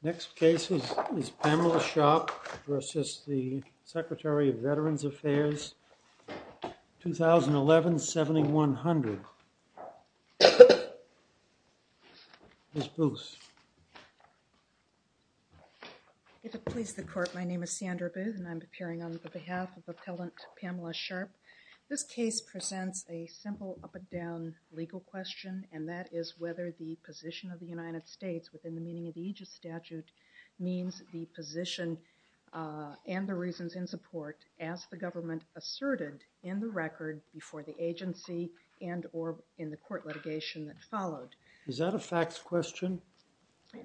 Next case is PAMELA SHARP v. THE VAMPERS The case presents a simple up-and-down legal question, and that is whether the position of the United States within the meaning of the Aegis statute means the position and the reasons in support as the government asserted in the record before the agency and or in the court litigation that followed. Is that a facts question,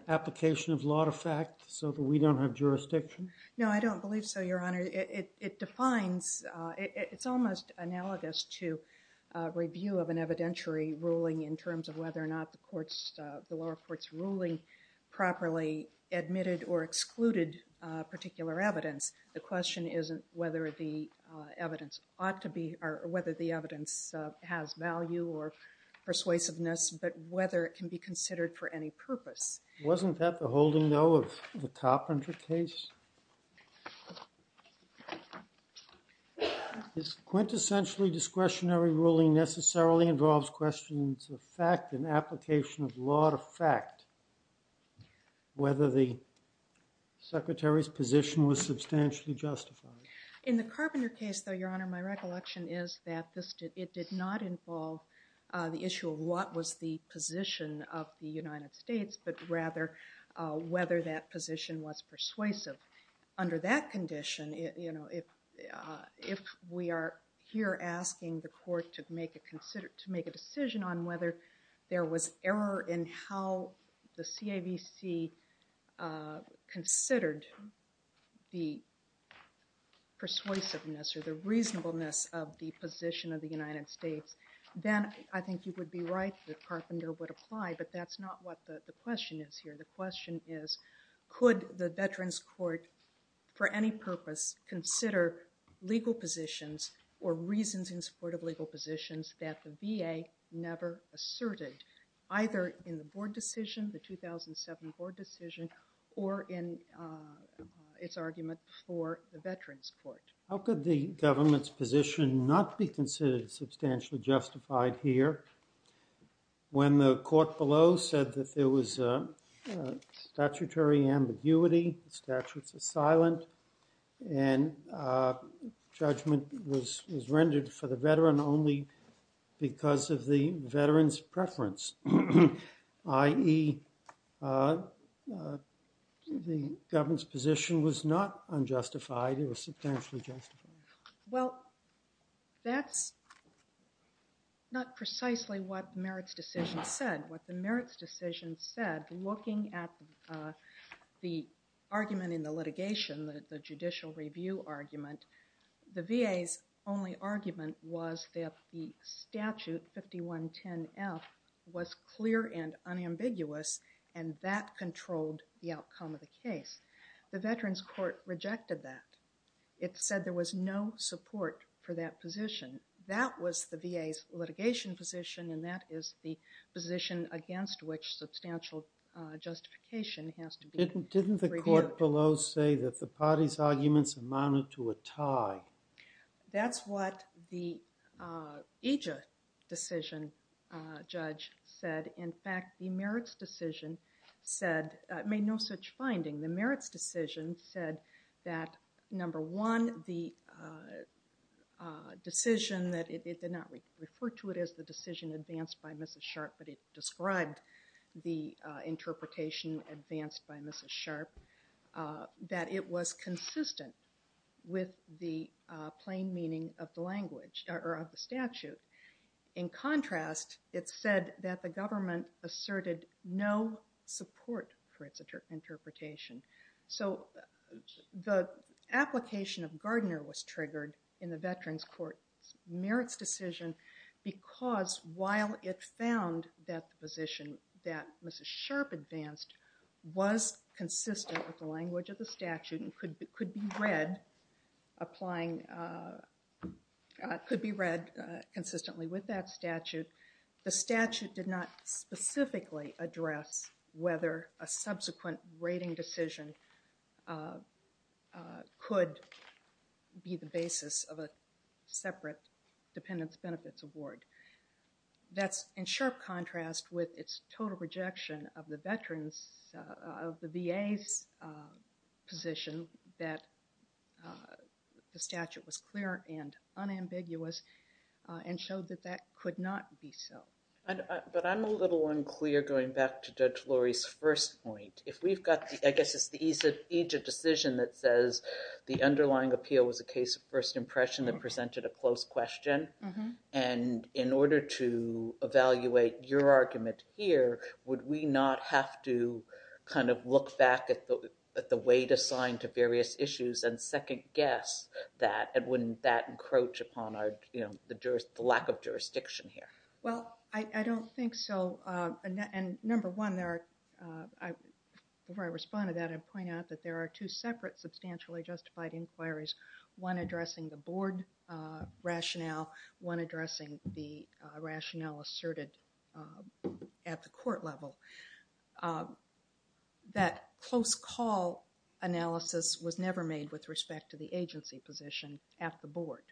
application of law to fact, so that we don't have jurisdiction? No, I don't believe so, Your Honor. It defines, it's almost analogous to a review of an evidentiary ruling in terms of whether or not the lower court's ruling properly admitted or excluded particular evidence. The question isn't whether the evidence ought to be, or whether the evidence has value or persuasiveness, but whether it can be considered for any purpose. Wasn't that the holding, though, of the Carpenter case? This quintessentially discretionary ruling necessarily involves questions of fact and In the Carpenter case, though, Your Honor, my recollection is that it did not involve the issue of what was the position of the United States, but rather whether that position was persuasive. Under that condition, if we are here asking the court to make a decision on whether there was error in how the CAVC considered the persuasiveness or the reasonableness of the position of the United States, then I think you would be right that Carpenter would apply. But that's not what the question is here. The question is, could the Veterans Court, for any purpose, consider legal positions or reasons in support of legal positions that the VA never asserted, either in the board decision, the 2007 board decision, or in its argument for the Veterans Court? How could the government's position not be considered substantially justified here when the court below said that there was a statutory ambiguity, the statutes are silent, and judgment was rendered for the veteran only because of the veteran's preference, i.e., the government's position was not unjustified, it was substantially justified? Well, that's not precisely what Merritt's decision said. What the Merritt's decision said, looking at the argument in the litigation, the judicial review argument, the VA's only argument was that the statute 5110F was clear and unambiguous and that controlled the outcome of the case. The Veterans Court rejected that. It said there was no support for that position. That was the VA's litigation position, and that is the position against which substantial justification has to be reviewed. Didn't the court below say that the parties' arguments amounted to a tie? That's what the AJA decision judge said. In fact, the Merritt's decision said, made no such finding. The Merritt's decision said that, number one, the decision that, it did not refer to it as the decision advanced by Mrs. Sharp, but it described the interpretation advanced by Mrs. Sharp, that it was consistent with the plain meaning of the statute. In contrast, it said that the government asserted no support for its interpretation. So the application of Gardner was triggered in the Veterans Court Merritt's decision because while it found that the position that Mrs. Sharp advanced was consistent with the language of the statute and could be read applying, could be read consistently with that statute, the statute did not specifically address whether a subsequent rating decision could be the basis of a separate dependence benefits award. That's in sharp contrast with its total rejection of the VA's position that the statute was clear and unambiguous and showed that that could not be so. But I'm a little unclear going back to Judge Lori's first point. If we've got the, I guess it's the AJA decision that says the underlying appeal was a case of first impression that presented a close question, and in order to evaluate your argument here, would we not have to kind of look back at the weight assigned to various issues and second guess that, and wouldn't that encroach upon the lack of jurisdiction here? Well, I don't think so. And number one, before I respond to that, I'd point out that there are two separate substantially justified inquiries, one addressing the board rationale, one addressing the rationale asserted at the court level. That close call analysis was never made with respect to the agency position at the board.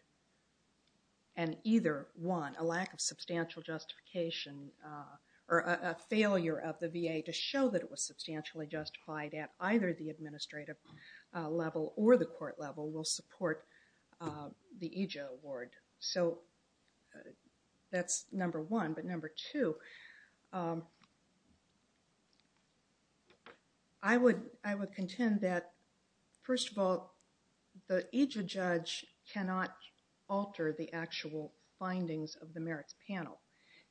And either one, a lack of substantial justification or a failure of the VA to show that it was substantially justified at either the administrative level or the court level will support the AJA award. So that's number one. But number two, I would contend that, first of all, the AJA judge cannot alter the actual findings of the merits panel.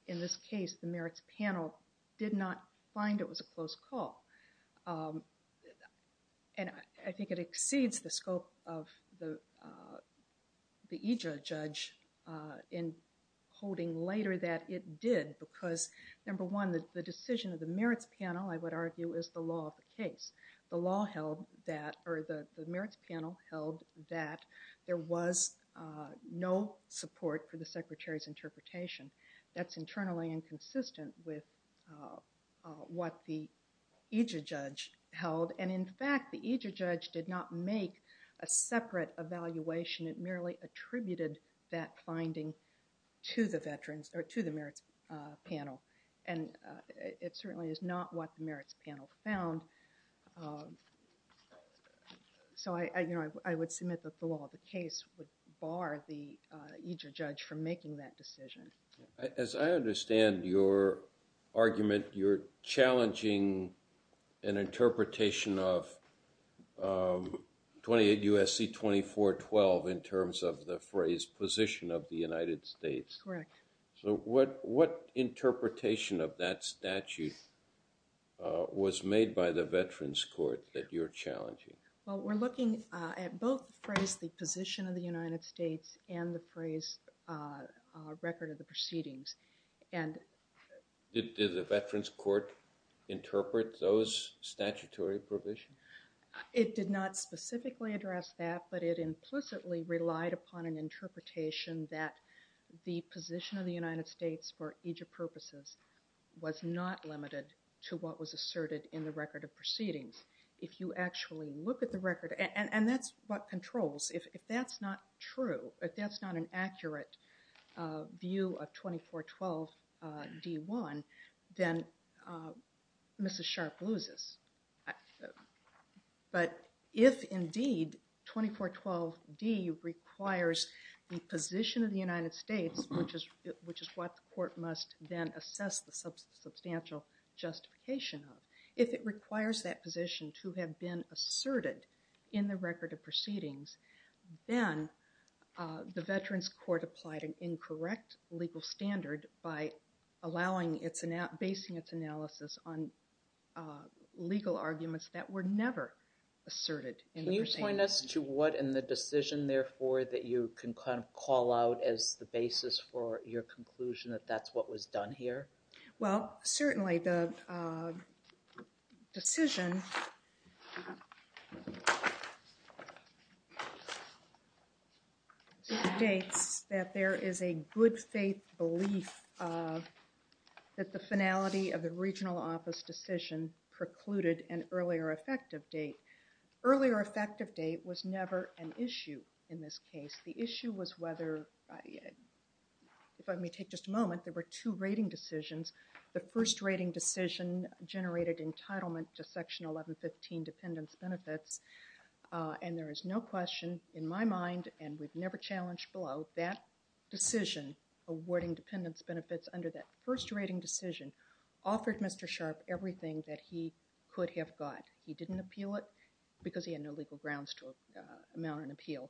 In this case, the merits panel did not find it was a close call. And I think it exceeds the scope of the AJA judge in holding later that it did, because number one, the decision of the merits panel, I would argue, is the law of the case. The law held that, or the merits panel held that there was no support for the secretary's interpretation. That's internally inconsistent with what the AJA judge held. And in fact, the AJA judge did not make a separate evaluation. It merely attributed that finding to the veterans or to the merits panel. And it certainly is not what the merits panel found. So I would submit that the law of the case would bar the AJA judge from making that decision. As I understand your argument, you're challenging an interpretation of 28 U.S.C. 2412 in terms of the phrase position of the United States. Correct. So what interpretation of that statute was made by the veterans court that you're challenging? Well, we're looking at both the phrase the position of the United States and the phrase record of the proceedings. Did the veterans court interpret those statutory provisions? It did not specifically address that, but it implicitly relied upon an interpretation that the position of the United States for AJA purposes was not limited to what was asserted in the record of proceedings. If you actually look at the record, and that's what controls. If that's not true, if that's not an accurate view of 2412 D1, then Mrs. Sharp loses. But if indeed 2412 D requires the position of the United States, which is what the court must then assess the substantial justification of, if it requires that position to have been asserted in the record of proceedings, then the veterans court applied an incorrect legal standard by basing its analysis on legal arguments that were never asserted in the proceedings. Can you point us to what in the decision, therefore, that you can kind of call out as the basis for your conclusion that that's what was done here? Well, certainly the decision states that there is a good faith belief that the finality of the regional office decision precluded an earlier effective date. Earlier effective date was never an issue in this case. The issue was whether, if I may take just a moment, there were two rating decisions. The first rating decision generated entitlement to Section 1115 dependence benefits, and there is no question in my mind, and we've never challenged below, that decision awarding dependence benefits under that first rating decision offered Mr. Sharp everything that he could have got. He didn't appeal it because he had no legal grounds to amount an appeal.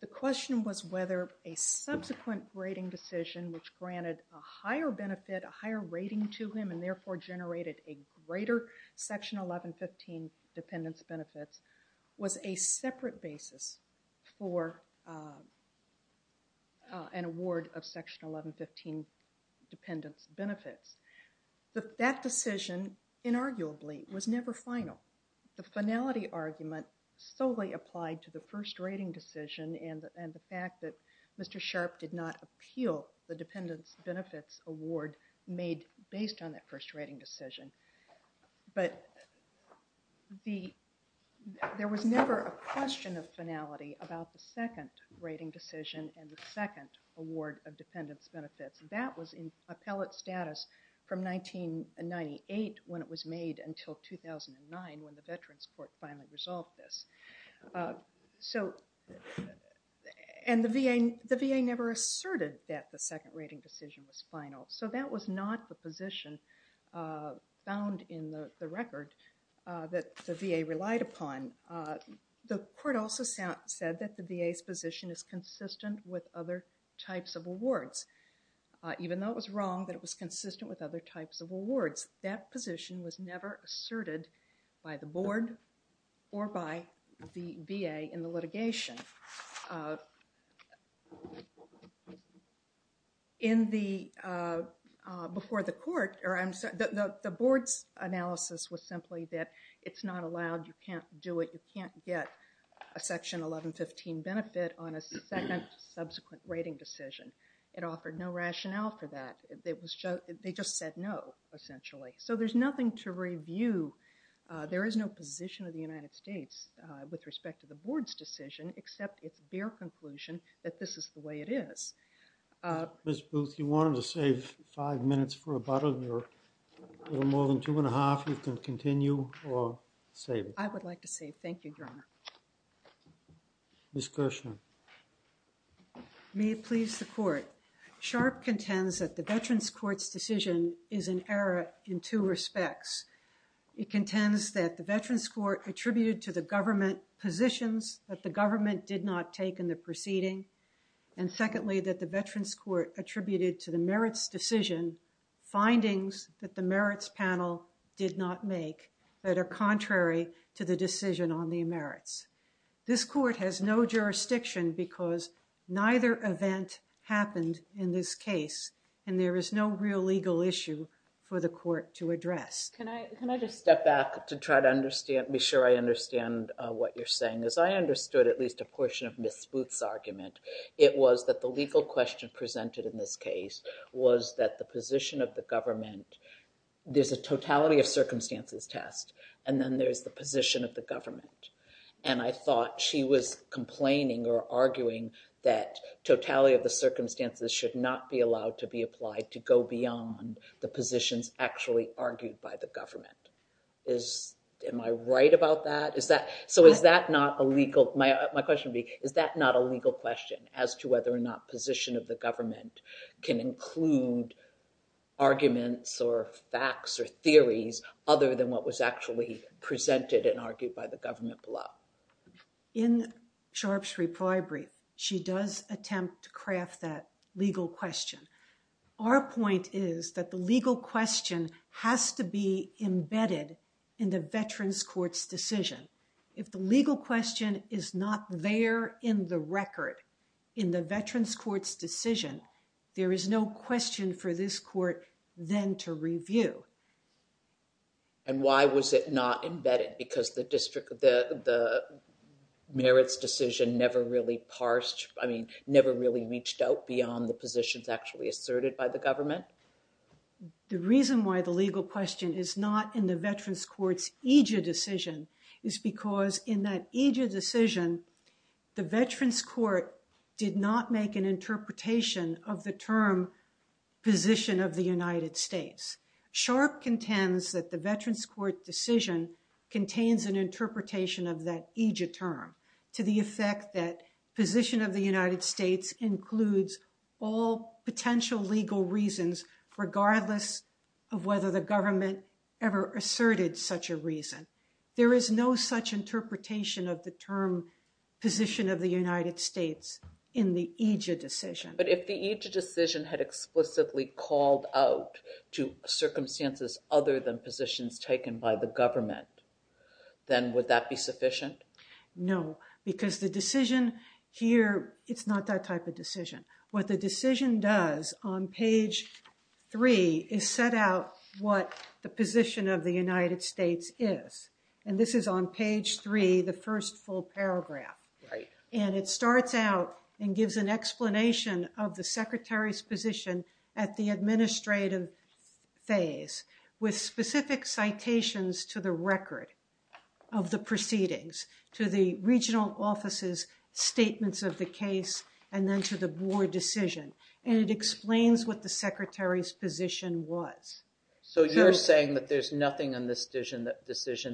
The question was whether a subsequent rating decision, which granted a higher benefit, a higher rating to him, and therefore generated a greater Section 1115 dependence benefits, was a separate basis for an award of Section 1115 dependence benefits. That decision, inarguably, was never final. The finality argument solely applied to the first rating decision and the fact that Mr. Sharp did not appeal the dependence benefits award made based on that first rating decision. But there was never a question of finality about the second rating decision and the second award of dependence benefits. That was in appellate status from 1998 when it was made until 2009 when the Veterans Court finally resolved this. The VA never asserted that the second rating decision was final, so that was not the position found in the record that the VA relied upon. The court also said that the VA's position is consistent with other types of awards, even though it was wrong that it was consistent with other types of awards. That position was never asserted by the board or by the VA in the litigation. The board's analysis was simply that it's not allowed, you can't do it, you can't get a Section 1115 benefit on a second subsequent rating decision. It offered no rationale for that. They just said no, essentially. So there's nothing to review. There is no position of the United States with respect to the board's decision except it's their conclusion that this is the way it is. Ms. Booth, you wanted to save five minutes for a button. There are more than two and a half. You can continue or save it. I would like to save. Thank you, Your Honor. Ms. Kirshner. May it please the court. Sharp contends that the Veterans Court's decision is an error in two respects. It contends that the Veterans Court attributed to the government positions that the government did not take in the proceeding. And secondly, that the Veterans Court attributed to the merits decision findings that the merits panel did not make that are contrary to the decision on the merits. This court has no jurisdiction because neither event happened in this case and there is no real legal issue for the court to address. Can I just step back to try to understand, make sure I understand what you're saying. As I understood at least a portion of Ms. Booth's argument, it was that the legal question presented in this case was that the position of the government, there's a totality of circumstances test and then there's the position of the government. And I thought she was complaining or arguing that totality of the circumstances should not be allowed to be applied to go beyond the positions actually argued by the government. Am I right about that? So is that not a legal, my question would be, is that not a legal question as to whether or not position of the government can include arguments or facts or theories other than what was actually presented and argued by the government below? In Sharpe's Reprieve, she does attempt to craft that legal question. Our point is that the legal question has to be embedded in the veterans court's decision. If the legal question is not there in the record, in the veterans court's decision, there is no question for this court then to review. And why was it not embedded? Because the district, the merits decision never really parsed, I mean never really reached out beyond the positions actually asserted by the government? The reason why the legal question is not in the veterans court's aegis decision is because in that aegis decision, the veterans court did not make an interpretation of the term position of the United States. Sharpe contends that the veterans court decision contains an interpretation of that aegis term to the effect that position of the United States includes all potential legal reasons regardless of whether the government ever asserted such a reason. There is no such interpretation of the term position of the United States in the aegis decision. But if the aegis decision had explicitly called out to circumstances other than positions taken by the government, then would that be sufficient? No, because the decision here, it's not that type of decision. What the decision does on page three is set out what the position of the United States is. And this is on page three, the first full paragraph. And it starts out and gives an explanation of the secretary's position at the specific citations to the record of the proceedings to the regional offices statements of the case and then to the board decision. And it explains what the secretary's position was. So you're saying that there's nothing in this decision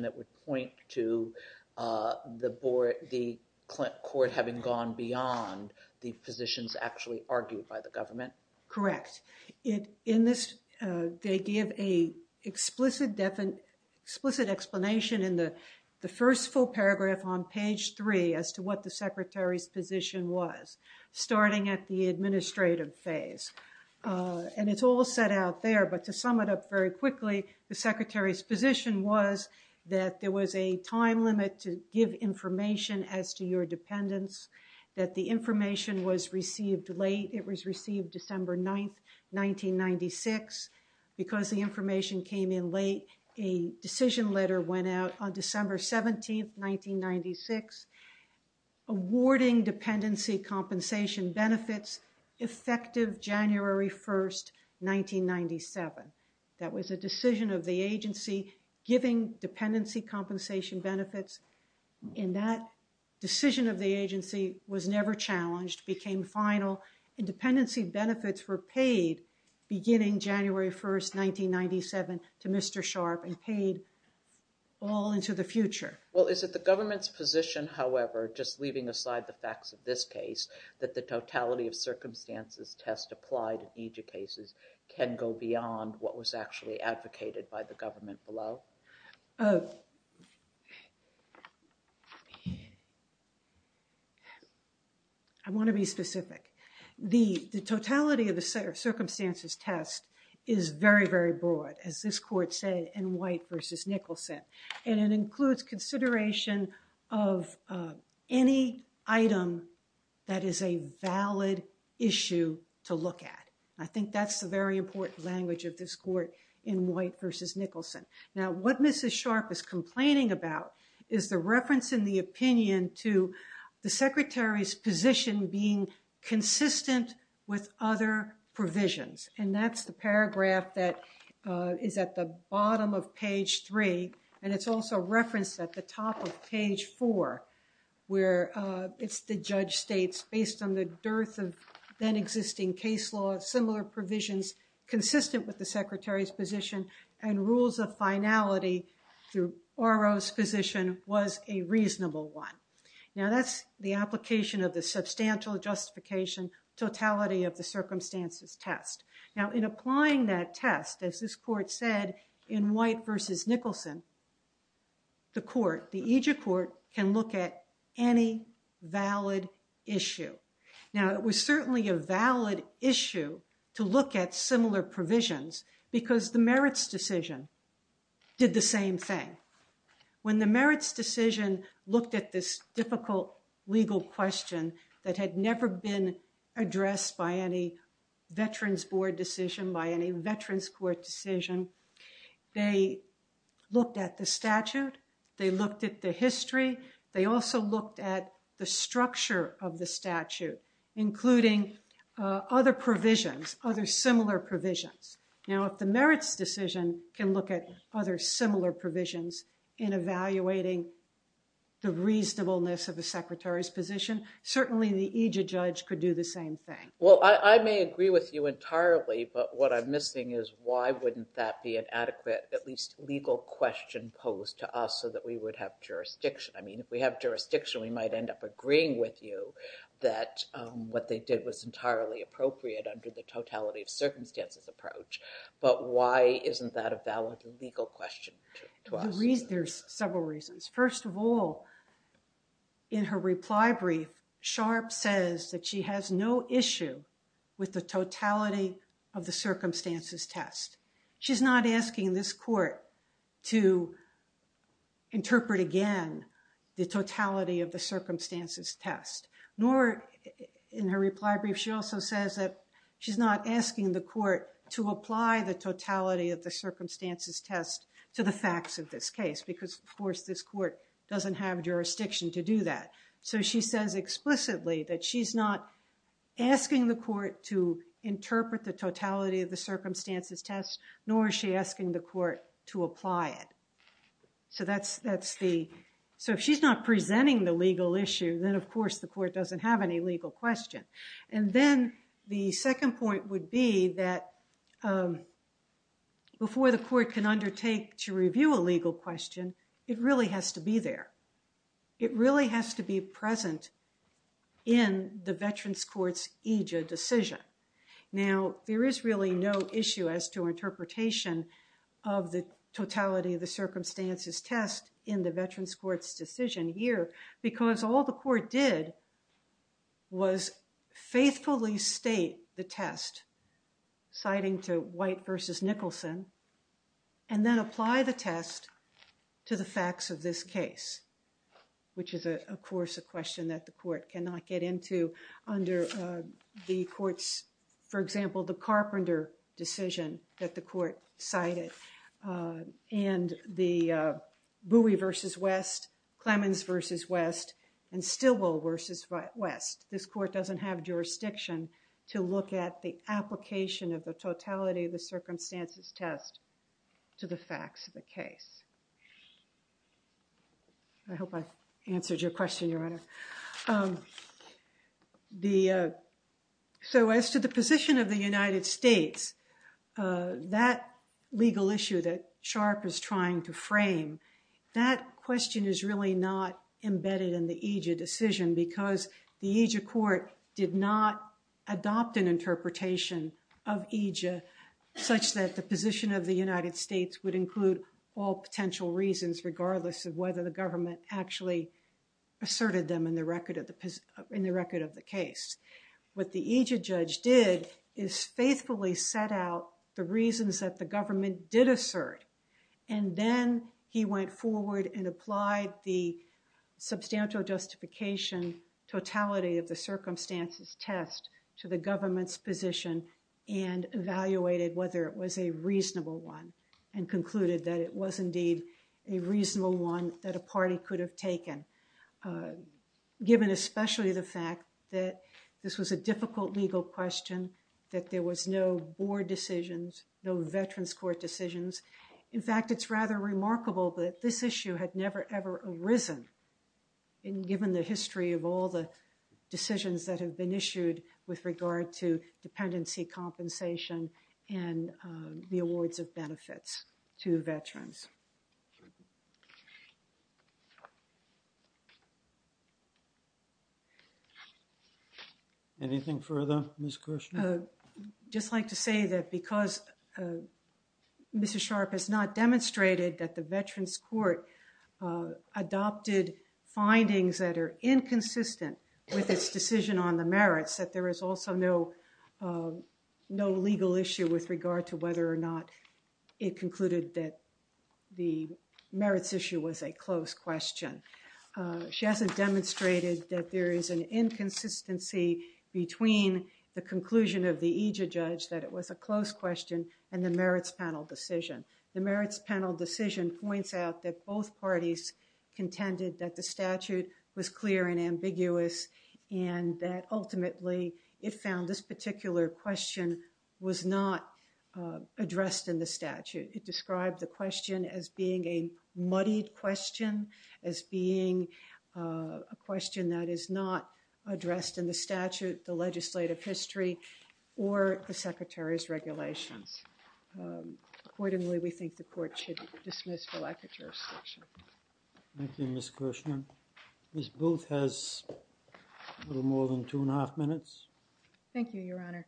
that would point to the board, the court having gone beyond the positions actually argued by the government? Correct. In this, they give an explicit explanation in the first full paragraph on page three as to what the secretary's position was, starting at the administrative phase. And it's all set out there, but to sum it up very quickly, the secretary's position was that there was a time limit to give information as to your dependence, that the information was received late. 1996, because the information came in late, a decision letter went out on December 17th, 1996, awarding dependency compensation benefits effective January 1st, 1997. That was a decision of the agency giving dependency compensation benefits. And that decision of the agency was never challenged, became final. Independency benefits were paid beginning January 1st, 1997 to Mr. Sharp and paid all into the future. Well, is it the government's position, however, just leaving aside the facts of this case, that the totality of circumstances test applied in these cases can go beyond what was actually advocated by the government below? I want to be specific. The totality of the circumstances test is very, very broad, as this court said in White v. Nicholson, and it includes consideration of any item that is a valid issue to look at. I think that's a very important language of this court in White v. Nicholson. Now, what Mrs. Sharp is complaining about is the reference in the opinion to the secretary's position being consistent with other provisions. And that's the paragraph that is at the bottom of page 3, and it's also referenced at the top of page 4, where it's the judge states, based on the dearth of then-existing case law, similar provisions consistent with the rules of finality through R.O.'s position was a reasonable one. Now, that's the application of the substantial justification totality of the circumstances test. Now, in applying that test, as this court said in White v. Nicholson, the court, the Egypt court, can look at any valid issue. Now, it was certainly a valid issue to look at similar provisions because the merits decision did the same thing. When the merits decision looked at this difficult legal question that had never been addressed by any veterans' board decision, by any veterans' court decision, they looked at the statute. They looked at the history. They also looked at the structure of the statute, including other provisions, other similar provisions. Now, if the merits decision can look at other similar provisions in evaluating the reasonableness of the secretary's position, certainly the Egypt judge could do the same thing. Well, I may agree with you entirely, but what I'm missing is why wouldn't that be an adequate, at least legal question posed to us so that we would have jurisdiction. I mean, if we have jurisdiction, we might end up agreeing with you that what they did was entirely appropriate under the totality of circumstance approach. But why isn't that a valid legal question to us? There's several reasons. First of all, in her reply brief, Sharp says that she has no issue with the totality of the circumstances test. She's not asking this court to interpret again the totality of the circumstances test. Nor in her reply brief, she also says that she's not asking the court to apply the totality of the circumstances test to the facts of this case because, of course, this court doesn't have jurisdiction to do that. So she says explicitly that she's not asking the court to interpret the totality of the circumstances test, nor is she asking the court to apply it. So if she's not presenting the legal issue, then, of course, the court doesn't have any legal question. And then the second point would be that before the court can undertake to review a legal question, it really has to be there. It really has to be present in the Veterans Court's EJIA decision. Now, there is really no issue as to interpretation of the totality of the circumstances test in the Veterans Court's decision here because all the court did was faithfully state the test, citing to White versus Nicholson, and then apply the test to the facts of this case, which is, of course, a carpenter decision that the court cited, and the Bowie versus West, Clemens versus West, and Stilwell versus West. This court doesn't have jurisdiction to look at the application of the totality of the circumstances test to the facts of the case. So as to the position of the United States, that legal issue that Sharpe is trying to frame, that question is really not embedded in the EJIA decision because the EJIA court did not adopt an interpretation of EJIA such that the position of the United States would include all potential reasons regardless of whether the government actually asserted them in the record of the case. What the EJIA judge did is faithfully set out the reasons that the government did assert, and then he went forward and applied the substantial justification totality of the circumstances test to the government's position and evaluated whether it was a reasonable one and concluded that it was indeed a reasonable one that a party could have taken, given especially the fact that this was a difficult legal question, that there was no board decisions, no veterans court decisions. In fact, it's rather remarkable that this issue had never, ever arisen given the history of all the decisions that have been issued with regard to veterans. Anything further, Ms. Kirshner? Just like to say that because Mr. Sharpe has not demonstrated that the veterans court adopted findings that are inconsistent with its decision on the merits, that there is also no legal issue with regard to whether or not it concluded that the merits issue was a close question. She hasn't demonstrated that there is an inconsistency between the conclusion of the EJIA judge that it was a close question and the merits panel decision. The merits panel decision points out that both parties contended that the statute was clear and ambiguous and that ultimately it found this to describe the question as being a muddied question, as being a question that is not addressed in the statute, the legislative history, or the secretary's regulations. Accordingly, we think the court should dismiss the lack of jurisdiction. Thank you, Ms. Kirshner. Ms. Booth has a little more than two and a half minutes. Thank you, Your Honor.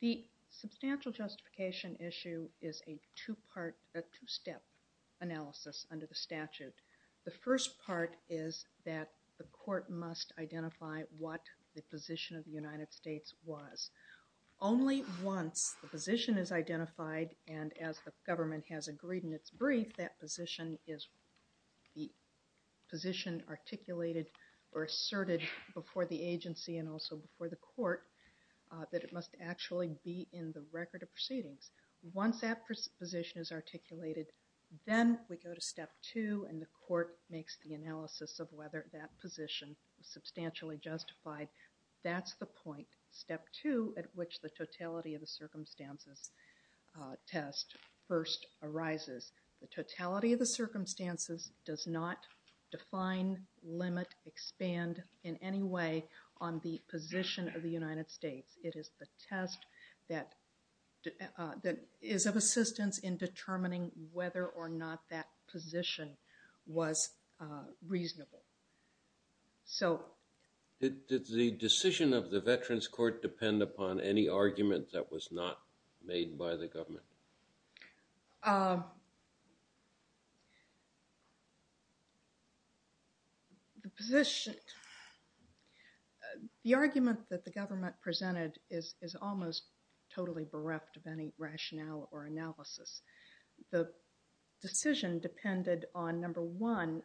The substantial justification issue is a two-step analysis under the statute. The first part is that the court must identify what the position of the United States was. Only once the position is identified and as the government has agreed in its brief, that position is articulated or asserted before the agency and also before the court that it must actually be in the record of proceedings. Once that position is articulated, then we go to step two and the court makes the analysis of whether that position is substantially justified. That's the point. Step two at which the totality of the circumstances test first arises. The totality of the circumstances does not define, limit, expand in any way on the position of the United States. It is the test that is of assistance in determining whether or not that position was reasonable. Did the decision of the Veterans Court depend upon any argument that was not made by the government? The argument that the government presented is almost totally bereft of any rationale or analysis. The decision depended on, number one,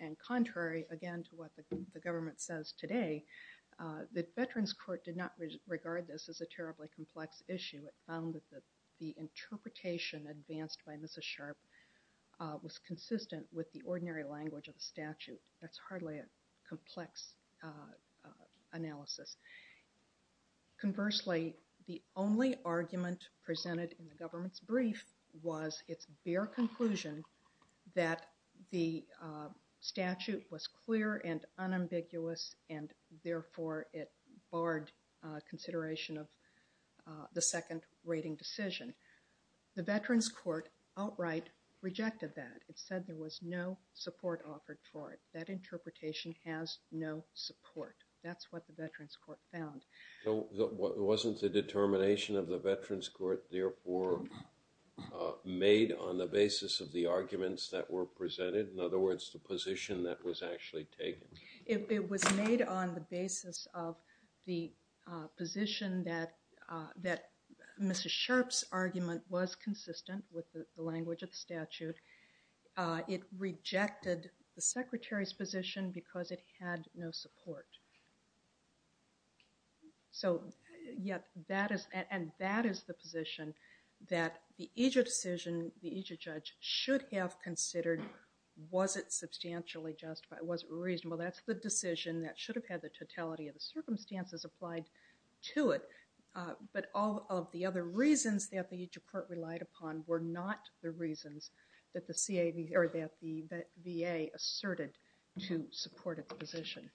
and contrary again to what the government says today, the Veterans Court did not regard this as a terribly complex issue. It found that the interpretation advanced by Mrs. Sharp was consistent with the ordinary language of the statute. That's hardly a complex analysis. Conversely, the only argument presented in the government's brief was its bare conclusion that the statute was clear and unambiguous and therefore it was a consideration of the second rating decision. The Veterans Court outright rejected that. It said there was no support offered for it. That interpretation has no support. That's what the Veterans Court found. Wasn't the determination of the Veterans Court, therefore, made on the basis of the arguments that were presented? In other words, the position that was actually taken? It was made on the basis of the position that Mrs. Sharp's argument was consistent with the language of the statute. It rejected the Secretary's position because it had no support. And that is the position that the IJRA decision, the IJRA judge should have considered. Was it substantially justified? Was it reasonable? That's the decision that should have had the totality of the circumstances applied to it. But all of the other reasons that the IJRA court relied upon were not the reasons that the VA asserted to support its position.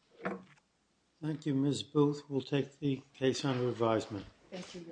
Thank you, Ms. Booth. We'll take the case under advisement. Thank you, Your Honor. Thank you.